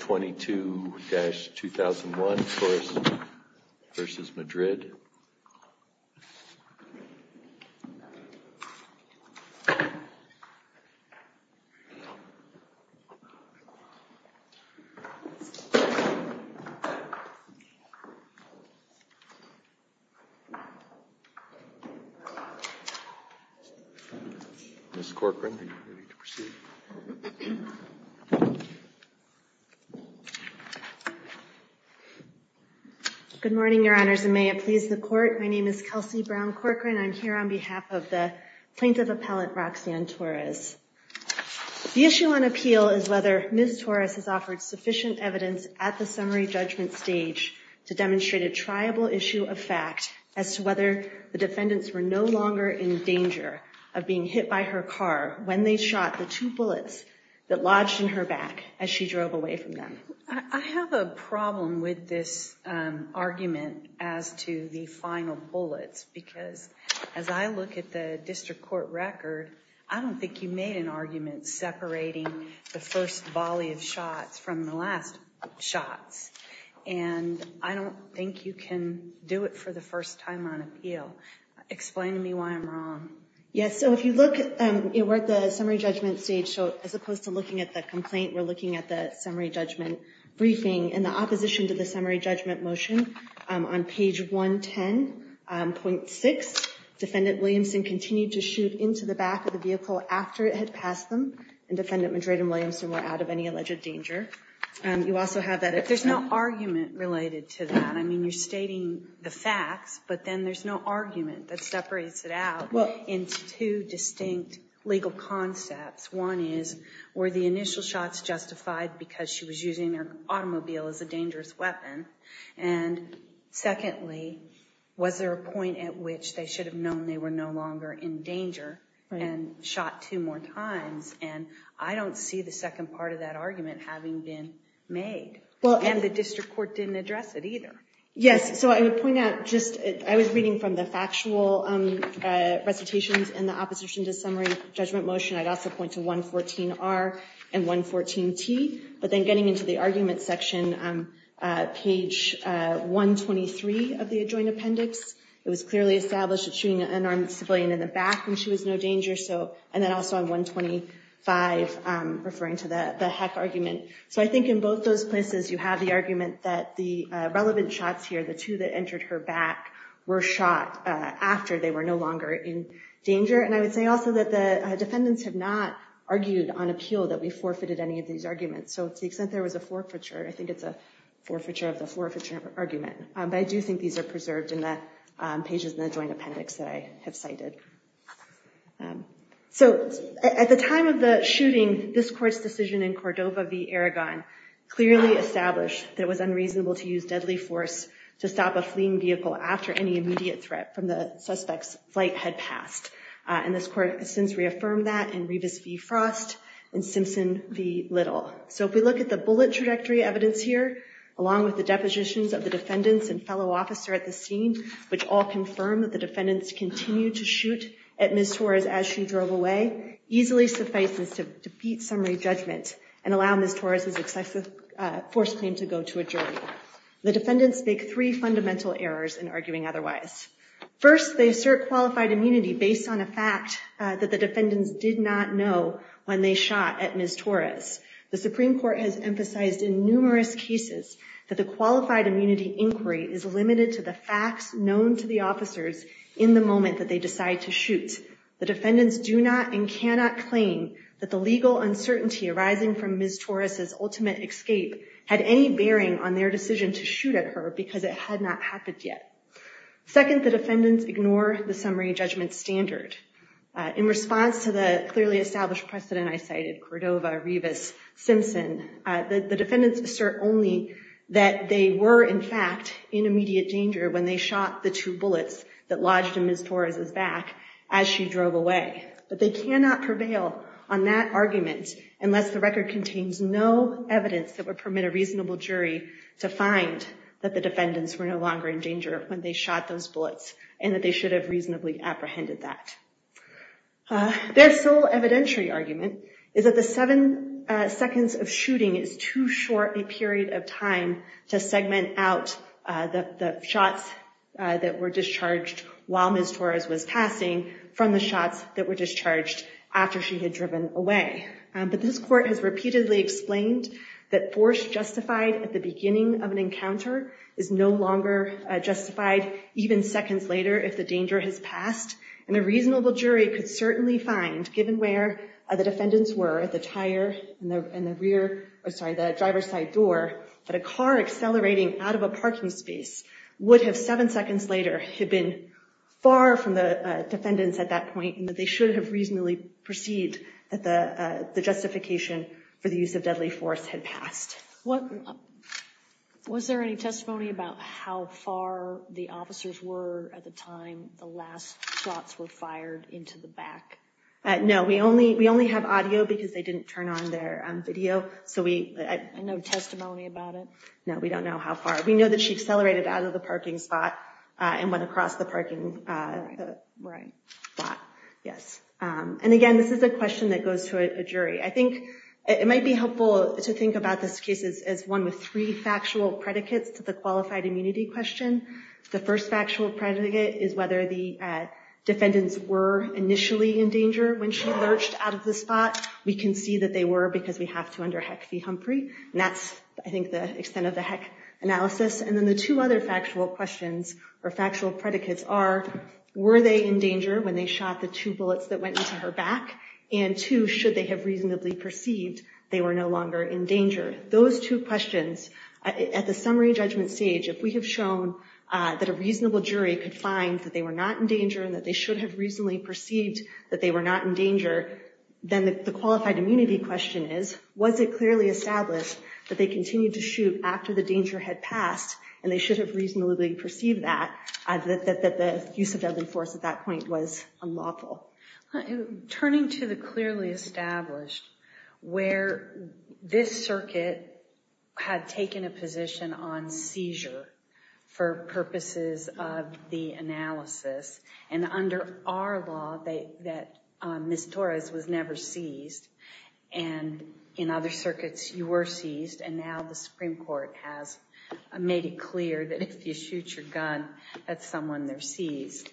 22-2001 Torres v. Madrid Ms. Corcoran, are you ready to proceed? Good morning, Your Honors, and may it please the Court. My name is Kelsey Brown Corcoran. I'm here on behalf of the Plaintiff Appellant Roxanne Torres. The issue on appeal is whether Ms. Torres has offered sufficient evidence at the summary judgment stage to demonstrate a triable issue of fact as to whether the defendants were no longer in danger of being hit by her car when they shot the two bullets that lodged in her back as she drove away from them. I have a problem with this argument as to the final bullets because as I look at the district court record, I don't think you made an argument separating the first volley of shots from the last shots. And I don't think you can do it for the first time on appeal. Explain to me why I'm wrong. Yes, so if you look, we're at the summary judgment stage, so as opposed to looking at the complaint, we're looking at the summary judgment briefing. In the opposition to the summary judgment motion on page 110.6, Defendant Williamson continued to shoot into the back of the vehicle after it had passed them, and Defendant Madrid and Williamson were out of any alleged danger. There's no argument related to that. I mean, you're stating the facts, but then there's no argument that separates it out into two distinct legal concepts. One is, were the initial shots justified because she was using her automobile as a dangerous weapon? And secondly, was there a point at which they should have known they were no longer in danger and shot two more times? And I don't see the second part of that argument having been made. Well, and the district court didn't address it either. Yes, so I would point out, I was reading from the factual recitations in the opposition to summary judgment motion. I'd also point to 114R and 114T, but then getting into the argument section, page 123 of the adjoint appendix, it was clearly established that shooting an unarmed civilian in the back when she was no danger, and then also on 125 referring to the heck argument. So I think in both those places, you have the argument that the relevant shots here, the two that entered her back, were shot after they were no longer in danger. And I would say also that the defendants have not argued on appeal that we forfeited any of these arguments. So to the extent there was a forfeiture, I think it's a forfeiture of the forfeiture argument. But I do think these are preserved in the pages in the joint appendix that I have cited. So at the time of the shooting, this court's decision in Cordova v. Aragon clearly established that it was unreasonable to use deadly force to stop a fleeing vehicle after any immediate threat from the suspect's flight had passed. And this court has since reaffirmed that in Revis v. Frost and Simpson v. Little. So if we look at the bullet trajectory evidence here, along with the depositions of the defendants and fellow officer at the scene, which all confirm that the defendants continued to shoot at Ms. Torres as she drove away, easily suffices to defeat summary judgment and allow Ms. Torres' excessive force claim to go to a jury. The defendants make three fundamental errors in arguing otherwise. First, they assert qualified immunity based on a fact that the defendants did not know when they shot at Ms. Torres. The Supreme Court has emphasized in numerous cases that the qualified immunity inquiry is limited to the facts known to the officers in the moment that they decide to shoot. The defendants do not and cannot claim that the legal uncertainty arising from Ms. Torres' ultimate escape had any bearing on their decision to shoot at her because it had not happened yet. Second, the defendants ignore the summary judgment standard. In response to the clearly established precedent I cited, Cordova, Revis, Simpson, the defendants assert only that they were in fact in immediate danger when they shot the two bullets that lodged in Ms. Torres' back as she drove away. But they cannot prevail on that argument unless the record contains no evidence that would permit a reasonable jury to find that the defendants were no longer in danger when they shot those bullets and that they should have reasonably apprehended that. Their sole evidentiary argument is that the seven seconds of shooting is too short a period of time to segment out the shots that were discharged while Ms. Torres was passing from the shots that were discharged after she had driven away. But this court has repeatedly explained that force justified at the beginning of an encounter is no longer justified even seconds later if the danger has passed, and a reasonable jury could certainly find, given where the defendants were, at the driver's side door, that a car accelerating out of a parking space would have seven seconds later been far from the defendants at that point and that they should have reasonably perceived that the justification for the use of deadly force had passed. Was there any testimony about how far the officers were at the time the last shots were fired into the back? No, we only have audio because they didn't turn on their video. No testimony about it? No, we don't know how far. We know that she accelerated out of the parking spot and went across the parking spot. And again, this is a question that goes to a jury. I think it might be helpful to think about this case as one with three factual predicates to the qualified immunity question. The first factual predicate is whether the defendants were initially in danger when she lurched out of the spot. We can see that they were because we have to under HEC v. Humphrey, and that's, I think, the extent of the HEC analysis. And then the two other factual questions or factual predicates are, were they in danger when they shot the two bullets that went into her back? And two, should they have reasonably perceived they were no longer in danger? Those two questions, at the summary judgment stage, if we have shown that a reasonable jury could find that they were not in danger then the qualified immunity question is, was it clearly established that they continued to shoot after the danger had passed and they should have reasonably perceived that, that the use of deadly force at that point was unlawful? Turning to the clearly established, where this circuit had taken a position on seizure for purposes of the analysis, and under our law that Ms. Torres was never seized, and in other circuits you were seized, and now the Supreme Court has made it clear that if you shoot your gun at someone, they're seized.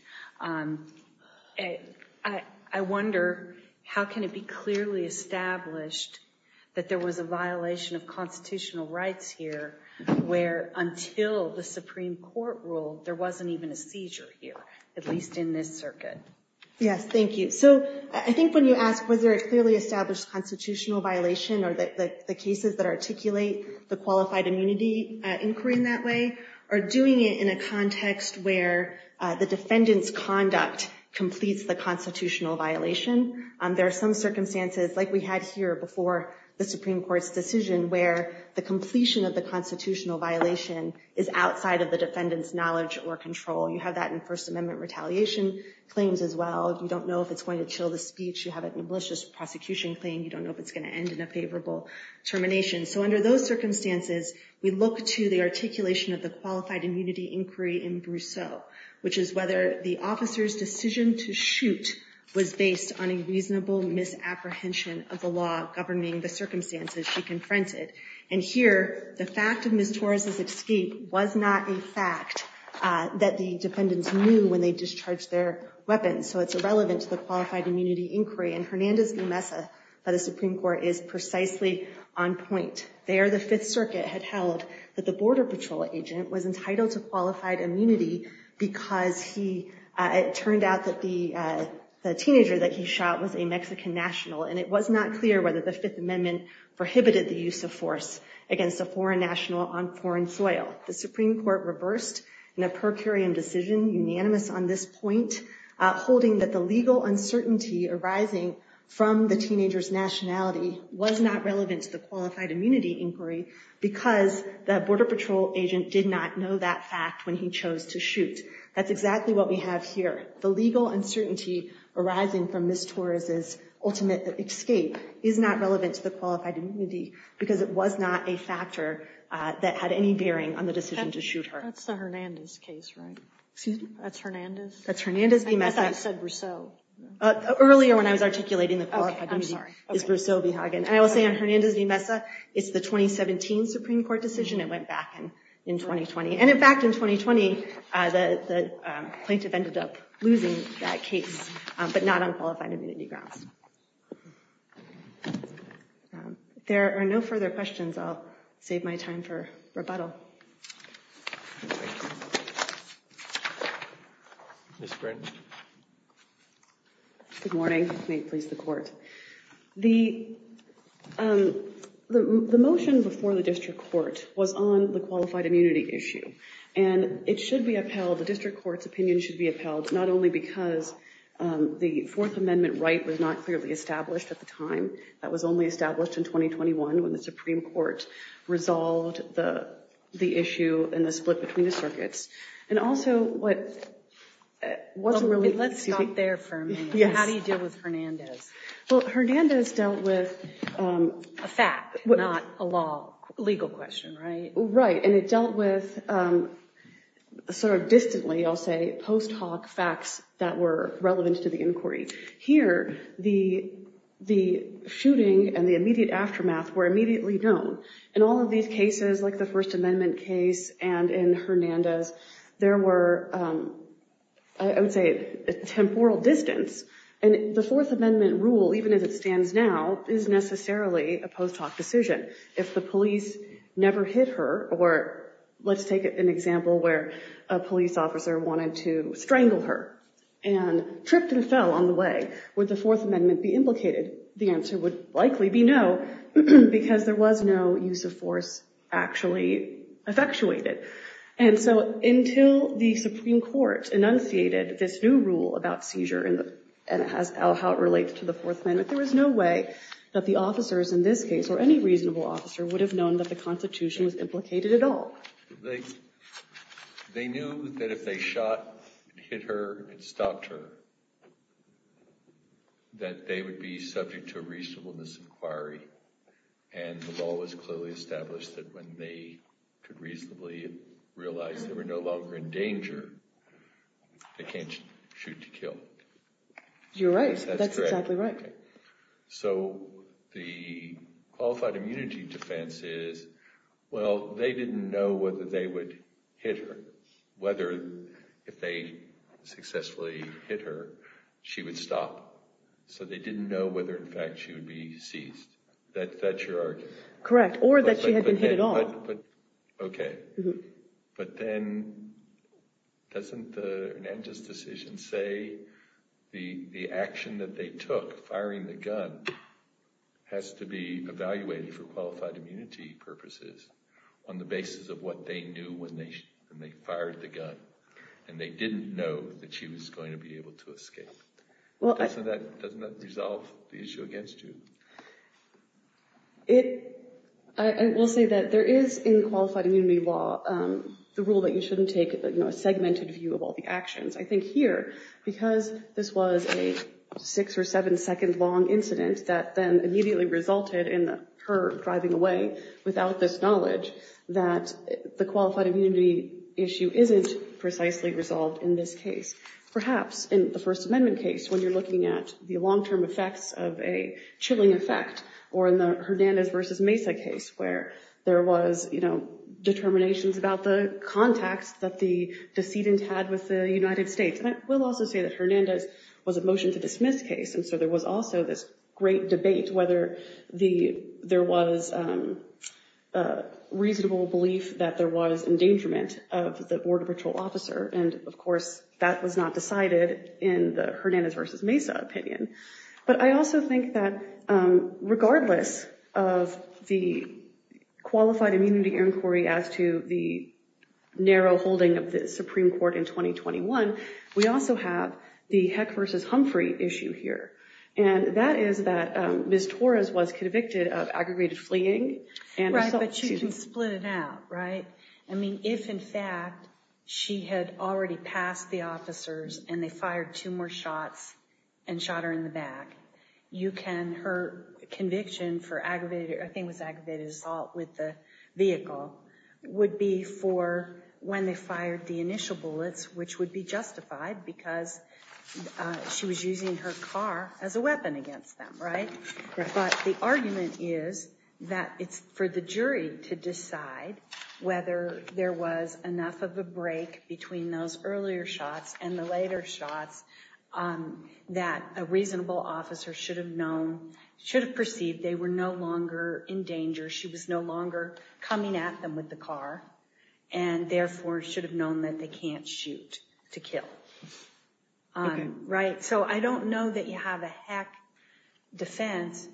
I wonder how can it be clearly established that there was a violation of constitutional rights here where until the Supreme Court ruled there wasn't even a seizure here, at least in this circuit? Yes, thank you. So I think when you ask whether it clearly established constitutional violation or that the cases that articulate the qualified immunity inquiry in that way are doing it in a context where the defendant's conduct completes the constitutional violation, there are some circumstances like we had here before the Supreme Court's decision where the completion of the constitutional violation is outside of the defendant's knowledge or control. You have that in First Amendment retaliation claims as well. You don't know if it's going to chill the speech. You have it in a malicious prosecution claim. You don't know if it's going to end in a favorable termination. So under those circumstances, we look to the articulation of the qualified immunity inquiry in Brousseau, which is whether the officer's decision to shoot was based on a reasonable misapprehension of the law governing the circumstances she confronted. And here, the fact of Ms. Torres' escape was not a fact that the defendants knew when they discharged their weapons, so it's irrelevant to the qualified immunity inquiry. And Hernandez v. Mesa by the Supreme Court is precisely on point. There, the Fifth Circuit had held that the Border Patrol agent was entitled to qualified immunity because it turned out that the teenager that he shot was a Mexican national, and it was not clear whether the Fifth Amendment prohibited the use of force against a foreign national on foreign soil. The Supreme Court reversed in a per curiam decision, unanimous on this point, holding that the legal uncertainty arising from the teenager's nationality was not relevant to the qualified immunity inquiry because the Border Patrol agent did not know that fact when he chose to shoot. That's exactly what we have here. The legal uncertainty arising from Ms. Torres' ultimate escape is not relevant to the qualified immunity because it was not a factor that had any bearing on the decision to shoot her. That's the Hernandez case, right? Excuse me? That's Hernandez? That's Hernandez v. Mesa. I thought you said Brousseau. Earlier when I was articulating the qualified immunity, it was Brousseau v. Hagen. And I will say on Hernandez v. Mesa, it's the 2017 Supreme Court decision. It went back in 2020. And in fact, in 2020, the plaintiff ended up losing that case, but not on qualified immunity grounds. If there are no further questions, I'll save my time for rebuttal. Ms. Britton. Good morning. May it please the Court. The motion before the district court was on the qualified immunity issue. And it should be upheld, the district court's opinion should be upheld, not only because the Fourth Amendment right was not clearly established at the time, that was only established in 2021 when the Supreme Court resolved the issue and the split between the circuits, and also what... Let's stop there for a minute. How do you deal with Hernandez? Well, Hernandez dealt with... A fact, not a law, legal question, right? Right. And it dealt with sort of distantly, I'll say, post hoc facts that were relevant to the inquiry. Here, the shooting and the immediate aftermath were immediately known. In all of these cases, like the First Amendment case and in Hernandez, there were, I would say, temporal distance. And the Fourth Amendment rule, even as it stands now, is necessarily a post hoc decision. If the police never hit her, or let's take an example where a police officer wanted to strangle her and tripped and fell on the way, would the Fourth Amendment be implicated? The answer would likely be no, because there was no use of force actually effectuated. And so until the Supreme Court enunciated this new rule about seizure and how it relates to the Fourth Amendment, there was no way that the officers in this case, or any reasonable officer, would have known that the Constitution was implicated at all. They knew that if they shot and hit her and stopped her, that they would be subject to a reasonableness inquiry. And the law was clearly established that when they could reasonably realize they were no longer in danger, they can't shoot to kill. You're right. That's exactly right. So the qualified immunity defense is, well, they didn't know whether they would hit her, whether if they successfully hit her, she would stop. So they didn't know whether, in fact, she would be seized. That's your argument? Correct. Or that she had been hit at all. Okay. But then doesn't Hernandez's decision say the action that they took, firing the gun, has to be evaluated for qualified immunity purposes on the basis of what they knew when they fired the gun? And they didn't know that she was going to be able to escape. Doesn't that resolve the issue against you? I will say that there is, in qualified immunity law, the rule that you shouldn't take a segmented view of all the actions. I think here, because this was a six- or seven-second-long incident that then immediately resulted in her driving away without this knowledge, that the qualified immunity issue isn't precisely resolved in this case. Perhaps in the First Amendment case, when you're looking at the long-term effects of a chilling effect, or in the Hernandez v. Mesa case, where there was, you know, determinations about the contacts that the decedent had with the United States. And I will also say that Hernandez was a motion-to-dismiss case, and so there was also this great debate whether there was reasonable belief that there was in the Hernandez v. Mesa opinion. But I also think that regardless of the qualified immunity inquiry as to the narrow holding of the Supreme Court in 2021, we also have the Heck v. Humphrey issue here. And that is that Ms. Torres was convicted of aggregated fleeing. Right, but you can split it out, right? I mean, if in fact she had already passed the officers and they fired two more shots and shot her in the back, you can, her conviction for aggravated, I think it was aggravated assault with the vehicle, would be for when they fired the initial bullets, which would be justified, because she was using her car as a weapon against them, right? But the argument is that it's for the jury to decide whether there was enough of a break between those earlier shots and the later shots that a reasonable officer should have known, should have perceived they were no longer in danger. She was no longer coming at them with the car and therefore should have known that they can't shoot to kill. Right. So I don't know that you have a heck defense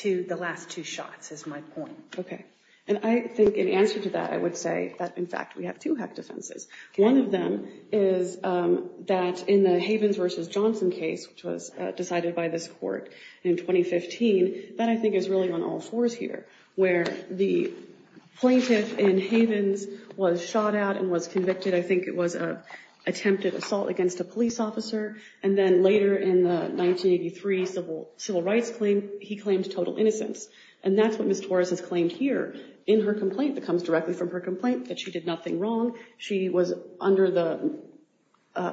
to the last two shots is my point. OK. And I think in answer to that, I would say that, in fact, we have two heck defenses. One of them is that in the Havens versus Johnson case, which was decided by this court in 2015, that I think is really on all fours here, where the plaintiff in Havens was shot out and was convicted. I think it was an attempted assault against a police officer. And then later in the 1983 civil rights claim, he claimed total innocence. And that's what Miss Torres has claimed here in her complaint that comes directly from her complaint that she did nothing wrong. She was under the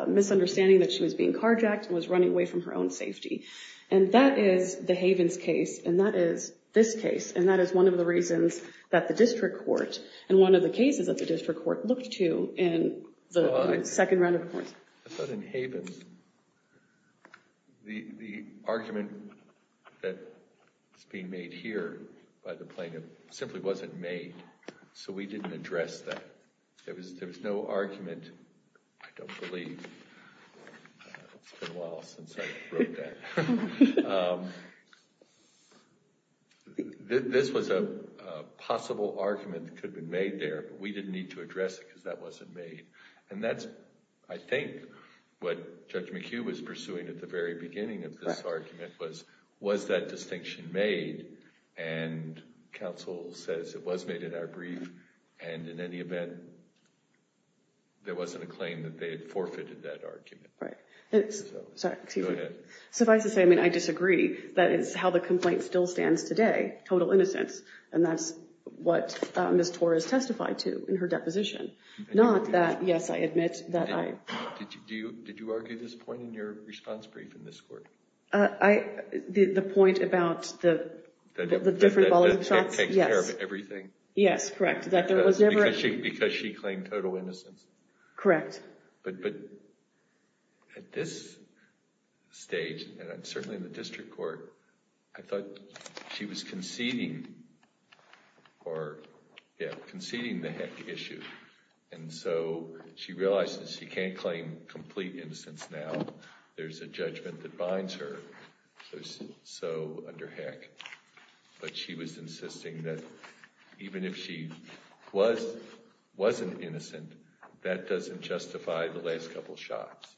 misunderstanding that she was being carjacked and was running away from her own safety. And that is the Havens case. And that is this case. And that is one of the reasons that the district court and one of the cases that the district court looked to in the second round of courts. I thought in Havens, the argument that is being made here by the plaintiff simply wasn't made. So we didn't address that. There was there was no argument. I don't believe. It's been a while since I wrote that. This was a possible argument that could have been made there, but we didn't need to address it because that wasn't made. And that's, I think, what Judge McHugh was pursuing at the very beginning of this argument was, was that distinction made? And counsel says it was made in our brief. And in any event, there wasn't a claim that they had forfeited that argument. Right. Sorry. Go ahead. Suffice to say, I mean, I disagree. That is how the complaint still stands today. Total innocence. And that's what Miss Torres testified to in her deposition. Not that. Yes, I admit that. Did you argue this point in your response brief in this court? The point about the different volume shots? Yes. That it takes care of everything? Yes. Correct. Because she claimed total innocence? Correct. But at this stage, and certainly in the district court, I thought she was conceding or conceding the issue. And so she realized that she can't claim complete innocence now. There's a judgment that binds her, so under heck. But she was insisting that even if she was, wasn't innocent, that doesn't justify the last couple shots.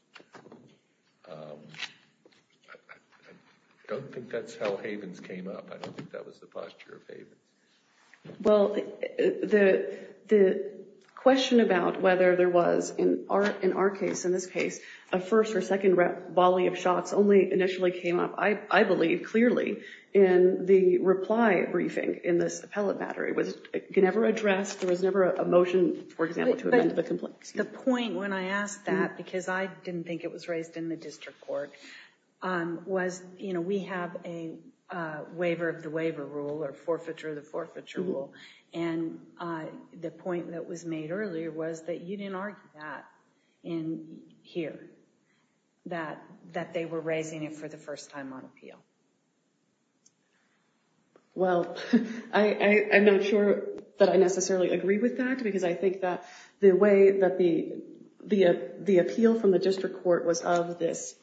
I don't think that's how Havens came up. I don't think that was the posture of Havens. Well, the question about whether there was, in our case, in this case, a first or second volley of shots only initially came up, I believe, clearly, in the reply briefing in this appellate battery. It was never addressed. There was never a motion, for example, to amend the complaint. The point when I asked that, because I didn't think it was raised in the district court, was, you know, we have a waiver of the waiver rule or forfeiture of the forfeiture rule. And the point that was made earlier was that you didn't argue that in here, that they were raising it for the first time on appeal. Well, I'm not sure that I necessarily agree with that, because I think that the way that the appeal from the district court was of this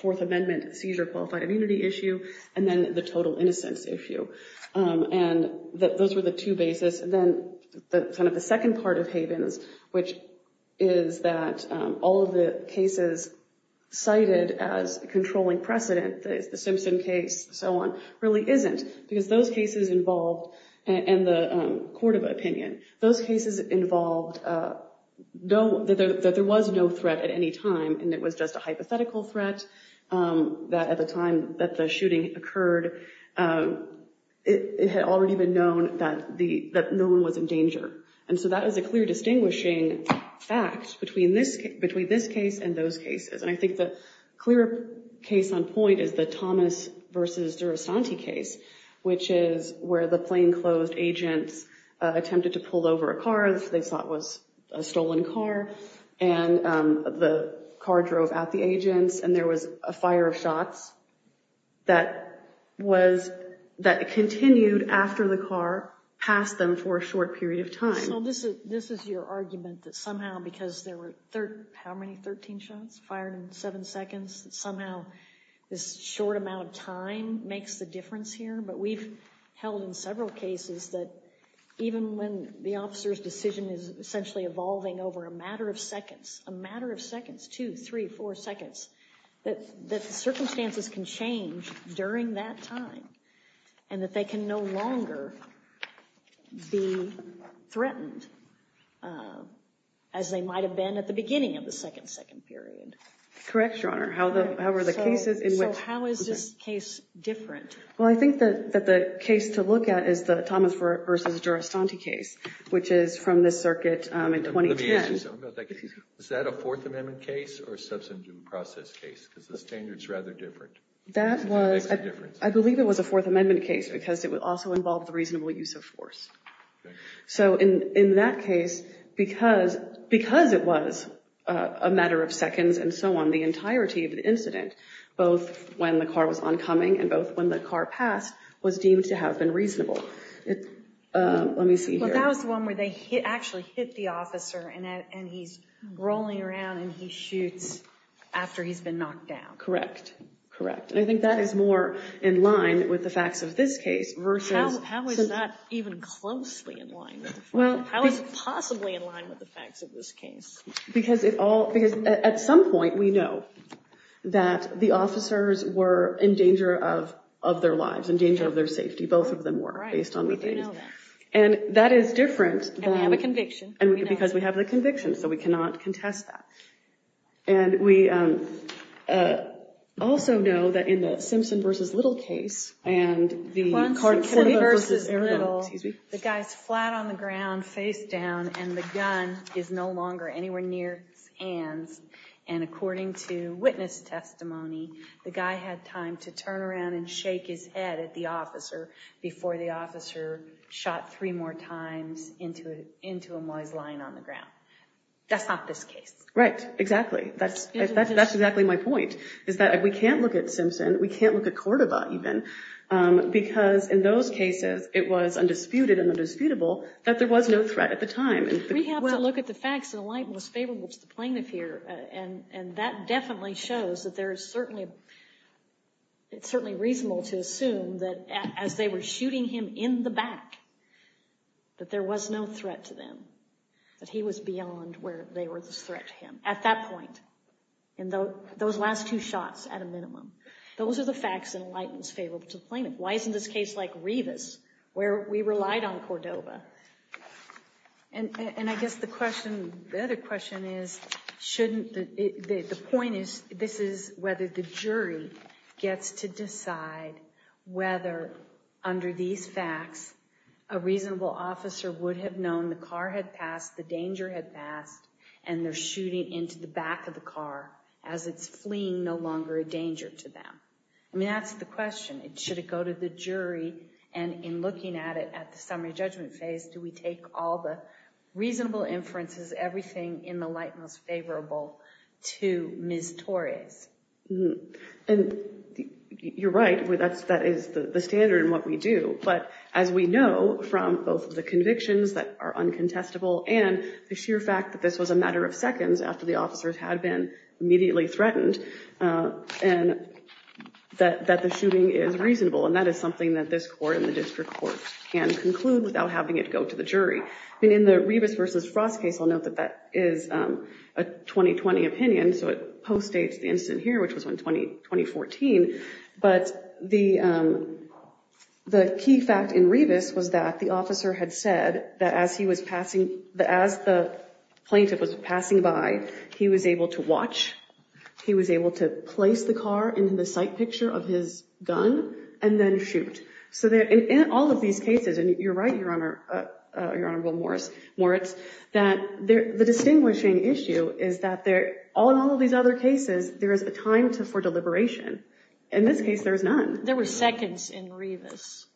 Fourth Amendment seizure qualified immunity issue, and then the total innocence issue. And those were the two basis. And then the second part of Havens, which is that all of the cases cited as controlling precedent, the Simpson case and so on, really isn't. Because those cases involved, and the Cordova opinion, those cases involved that there was no threat at any time, and it was just a hypothetical threat. That at the time that the shooting occurred, it had already been known that no one was in danger. And so that is a clear distinguishing fact between this case and those cases. And I think the clear case on point is the Thomas versus Durastanti case, which is where the plainclothes agents attempted to pull over a car they thought was a stolen car. And the car drove out the agents, and there was a fire of shots that was, that continued after the car passed them for a short period of time. So this is your argument that somehow, because there were how many, 13 shots fired in seven seconds, that somehow this short amount of time makes the difference here? But we've held in several cases that even when the officer's decision is essentially evolving over a matter of seconds, a matter of seconds, two, three, four seconds, that the circumstances can change during that time, and that they can no longer be threatened as they might have been at the beginning of the second second period. Correct, Your Honor. How are the cases in which... So how is this case different? Well, I think that the case to look at is the Thomas versus Durastanti case, which is from this circuit in 2010. Let me ask you something about that case. Is that a Fourth Amendment case or a substantive process case? Because the standard's rather different. That was... It makes a difference. I believe it was a Fourth Amendment case, because it would also involve the reasonable use of force. So in that case, because it was a matter of seconds and so on, the entirety of the incident, both when the car was oncoming and both when the car passed, was deemed to have been reasonable. Let me see here. Well, that was the one where they actually hit the officer, and he's rolling around, and he shoots after he's been knocked down. Correct. Correct. And I think that is more in line with the facts of this case versus... How is that even closely in line with the facts? How is it possibly in line with the facts of this case? Because at some point, we know that the officers were in danger of their lives, in danger of their safety. Both of them were, based on the things. Right. So that is different than... And we have a conviction. Because we have the conviction, so we cannot contest that. And we also know that in the Simpson v. Little case, and the... Simpson v. Little, the guy's flat on the ground, face down, and the gun is no longer anywhere near his hands. And according to witness testimony, the guy had time to turn around and shake his head at the officer before the officer shot three more times into a noise line on the ground. That's not this case. Right. Exactly. That's exactly my point, is that we can't look at Simpson. We can't look at Cordova, even, because in those cases, it was undisputed and undisputable that there was no threat at the time. We have to look at the facts, and the light was favorable to the plaintiff here, and that definitely shows that there is certainly... It's certainly reasonable to assume that as they were shooting him in the back, that there was no threat to them. That he was beyond where they were this threat to him, at that point, in those last two shots, at a minimum. Those are the facts, and the light was favorable to the plaintiff. Why isn't this case like Rivas, where we relied on Cordova? And I guess the question... The other question is, shouldn't... The point is, this is whether the jury gets to decide whether, under these facts, a reasonable officer would have known the car had passed, the danger had passed, and they're shooting into the back of the car as it's fleeing no longer a danger to them. I mean, that's the question. Should it go to the jury? And in looking at it at the summary judgment phase, do we take all the reasonable inferences, everything in the light most favorable to Ms. Torres? And you're right. That is the standard in what we do. But as we know from both the convictions that are uncontestable and the sheer fact that this was a matter of seconds after the officers had been immediately threatened, and that the shooting is reasonable, and that is something that this court and the district court can conclude without having it go to the jury. I mean, in the Rivas v. Frost case, I'll note that that is a 2020 opinion, so it postdates the incident here, which was in 2014. But the key fact in Rivas was that the officer had said that as the plaintiff was passing by, he was able to watch. He was able to place the car into the sight picture of his gun and then shoot. So in all of these cases, and you're right, Your Honorable Moritz, that the distinguishing issue is that in all of these other cases, there is a time for deliberation. In this case, there is none. There were seconds in Rivas.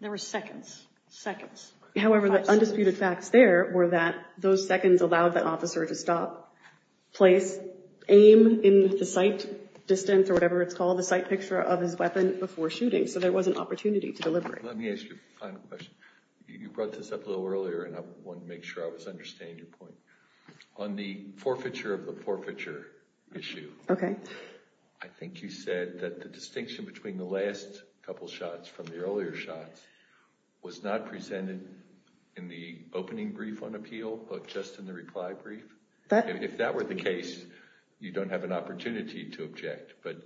There were seconds. Seconds. However, the undisputed facts there were that those seconds allowed the officer to stop, place, aim in the sight distance or whatever it's called, the sight picture of his weapon before shooting. So there was an opportunity to deliberate. Let me ask you a final question. You brought this up a little earlier, and I wanted to make sure I was understanding your point. On the forfeiture of the forfeiture issue, I think you said that the distinction between the last couple shots from the earlier shots was not presented in the opening brief on appeal, but just in the reply brief. If that were the case, you don't have an opportunity to object, but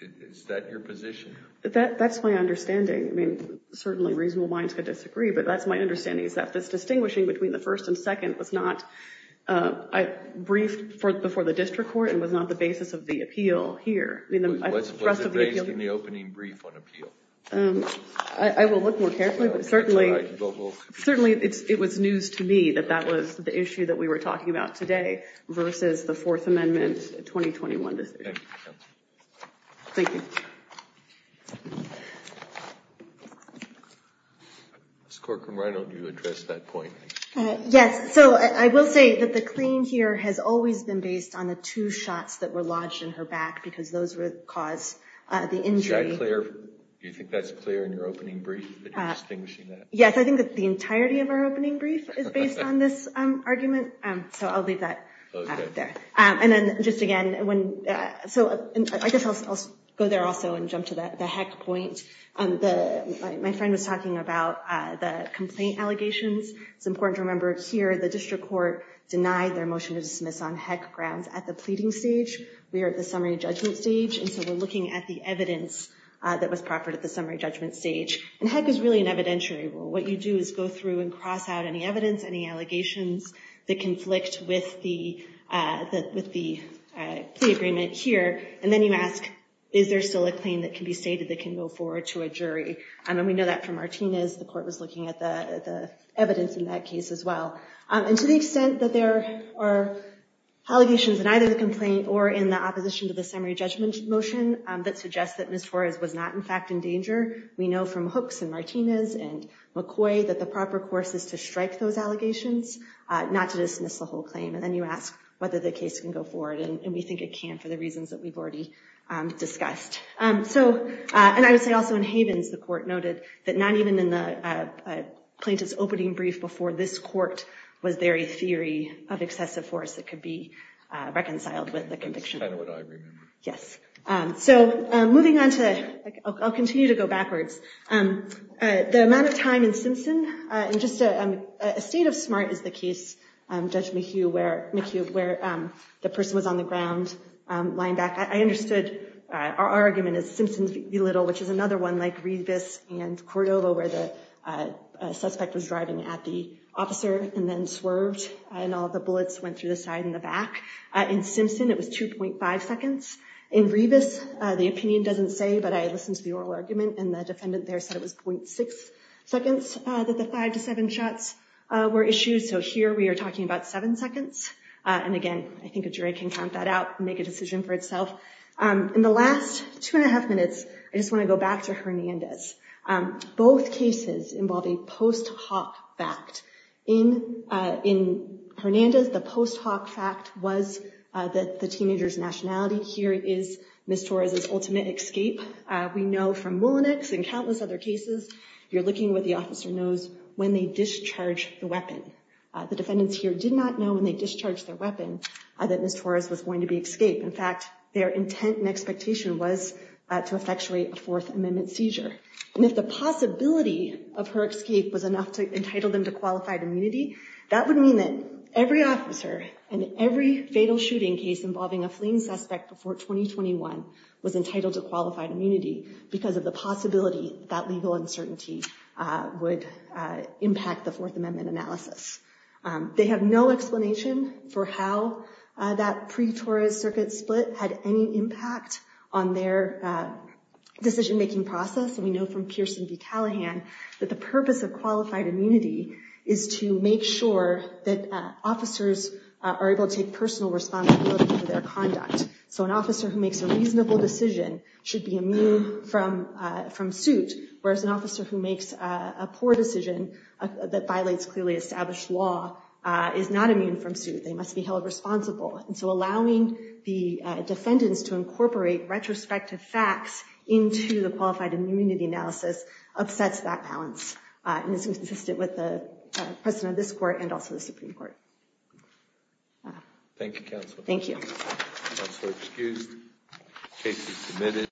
is that your position? That's my understanding. I mean, certainly reasonable minds could disagree, but that's my understanding is that this distinguishing between the first and second was not briefed before the district court and was not the basis of the appeal here. It was based in the opening brief on appeal. I will look more carefully, but certainly it was news to me that that was the issue that we were talking about today versus the Fourth Amendment 2021 decision. Thank you. Thank you. Ms. Corcoran, why don't you address that point? Yes. So I will say that the claim here has always been based on the two shots that were lodged in her back because those would cause the injury. Is that clear? Do you think that's clear in your opening brief that you're distinguishing that? Yes, I think that the entirety of our opening brief is based on this argument. So I'll leave that there. And then just again, I guess I'll go there also and jump to the Heck point. My friend was talking about the complaint allegations. It's important to remember here the district court denied their motion to dismiss on Heck grounds at the pleading stage. We are at the summary judgment stage, and so we're looking at the evidence that was proffered at the summary judgment stage. And Heck is really an evidentiary rule. What you do is go through and cross out any evidence, any allegations that conflict with the plea agreement here. And then you ask, is there still a claim that can be stated that can go forward to a jury? And we know that from Martinez. The court was looking at the evidence in that case as well. And to the extent that there are allegations in either the complaint or in the opposition to the summary judgment motion that suggests that Ms. Torres was not in fact in danger. We know from Hooks and Martinez and McCoy that the proper course is to strike those allegations, not to dismiss the whole claim. And then you ask whether the case can go forward. And we think it can for the reasons that we've already discussed. So and I would say also in Havens, the court noted that not even in the plaintiff's opening brief before this court was there a theory of excessive force that could be reconciled with the conviction. That's kind of what I remember. Yes. So moving on to I'll continue to go backwards. The amount of time in Simpson and just a state of smart is the case, Judge McHugh, where McHugh, where the person was on the ground lying back. I understood our argument is Simpson's belittle, which is another one like Revis and Cordova, where the suspect was driving at the officer and then swerved and all the bullets went through the side in the back. In Simpson, it was two point five seconds. In Revis, the opinion doesn't say, but I listened to the oral argument and the defendant there said it was point six seconds that the five to seven shots were issued. So here we are talking about seven seconds. And again, I think a jury can count that out, make a decision for itself. In the last two and a half minutes, I just want to go back to Hernandez. Both cases involve a post hoc fact in in Hernandez. The post hoc fact was that the teenagers nationality here is Miss Torres's ultimate escape. We know from Mullinex and countless other cases, you're looking with the officer knows when they discharge the weapon. The defendants here did not know when they discharged their weapon that Miss Torres was going to be escaped. In fact, their intent and expectation was to effectuate a Fourth Amendment seizure. And if the possibility of her escape was enough to entitle them to qualified immunity, that would mean that every officer and every fatal shooting case involving a fleeing suspect before 2021 was entitled to qualified immunity because of the possibility that legal uncertainty would impact the Fourth Amendment analysis. They have no explanation for how that pre-Torres circuit split had any impact on their decision making process. And we know from Pearson v. Callahan that the purpose of qualified immunity is to make sure that officers are able to take personal responsibility for their conduct. So an officer who makes a reasonable decision should be immune from from suit, whereas an officer who makes a poor decision that violates clearly established law is not immune from suit. They must be held responsible. And so allowing the defendants to incorporate retrospective facts into the qualified immunity analysis upsets that balance. And this is consistent with the precedent of this court and also the Supreme Court. Thank you, counsel. Thank you.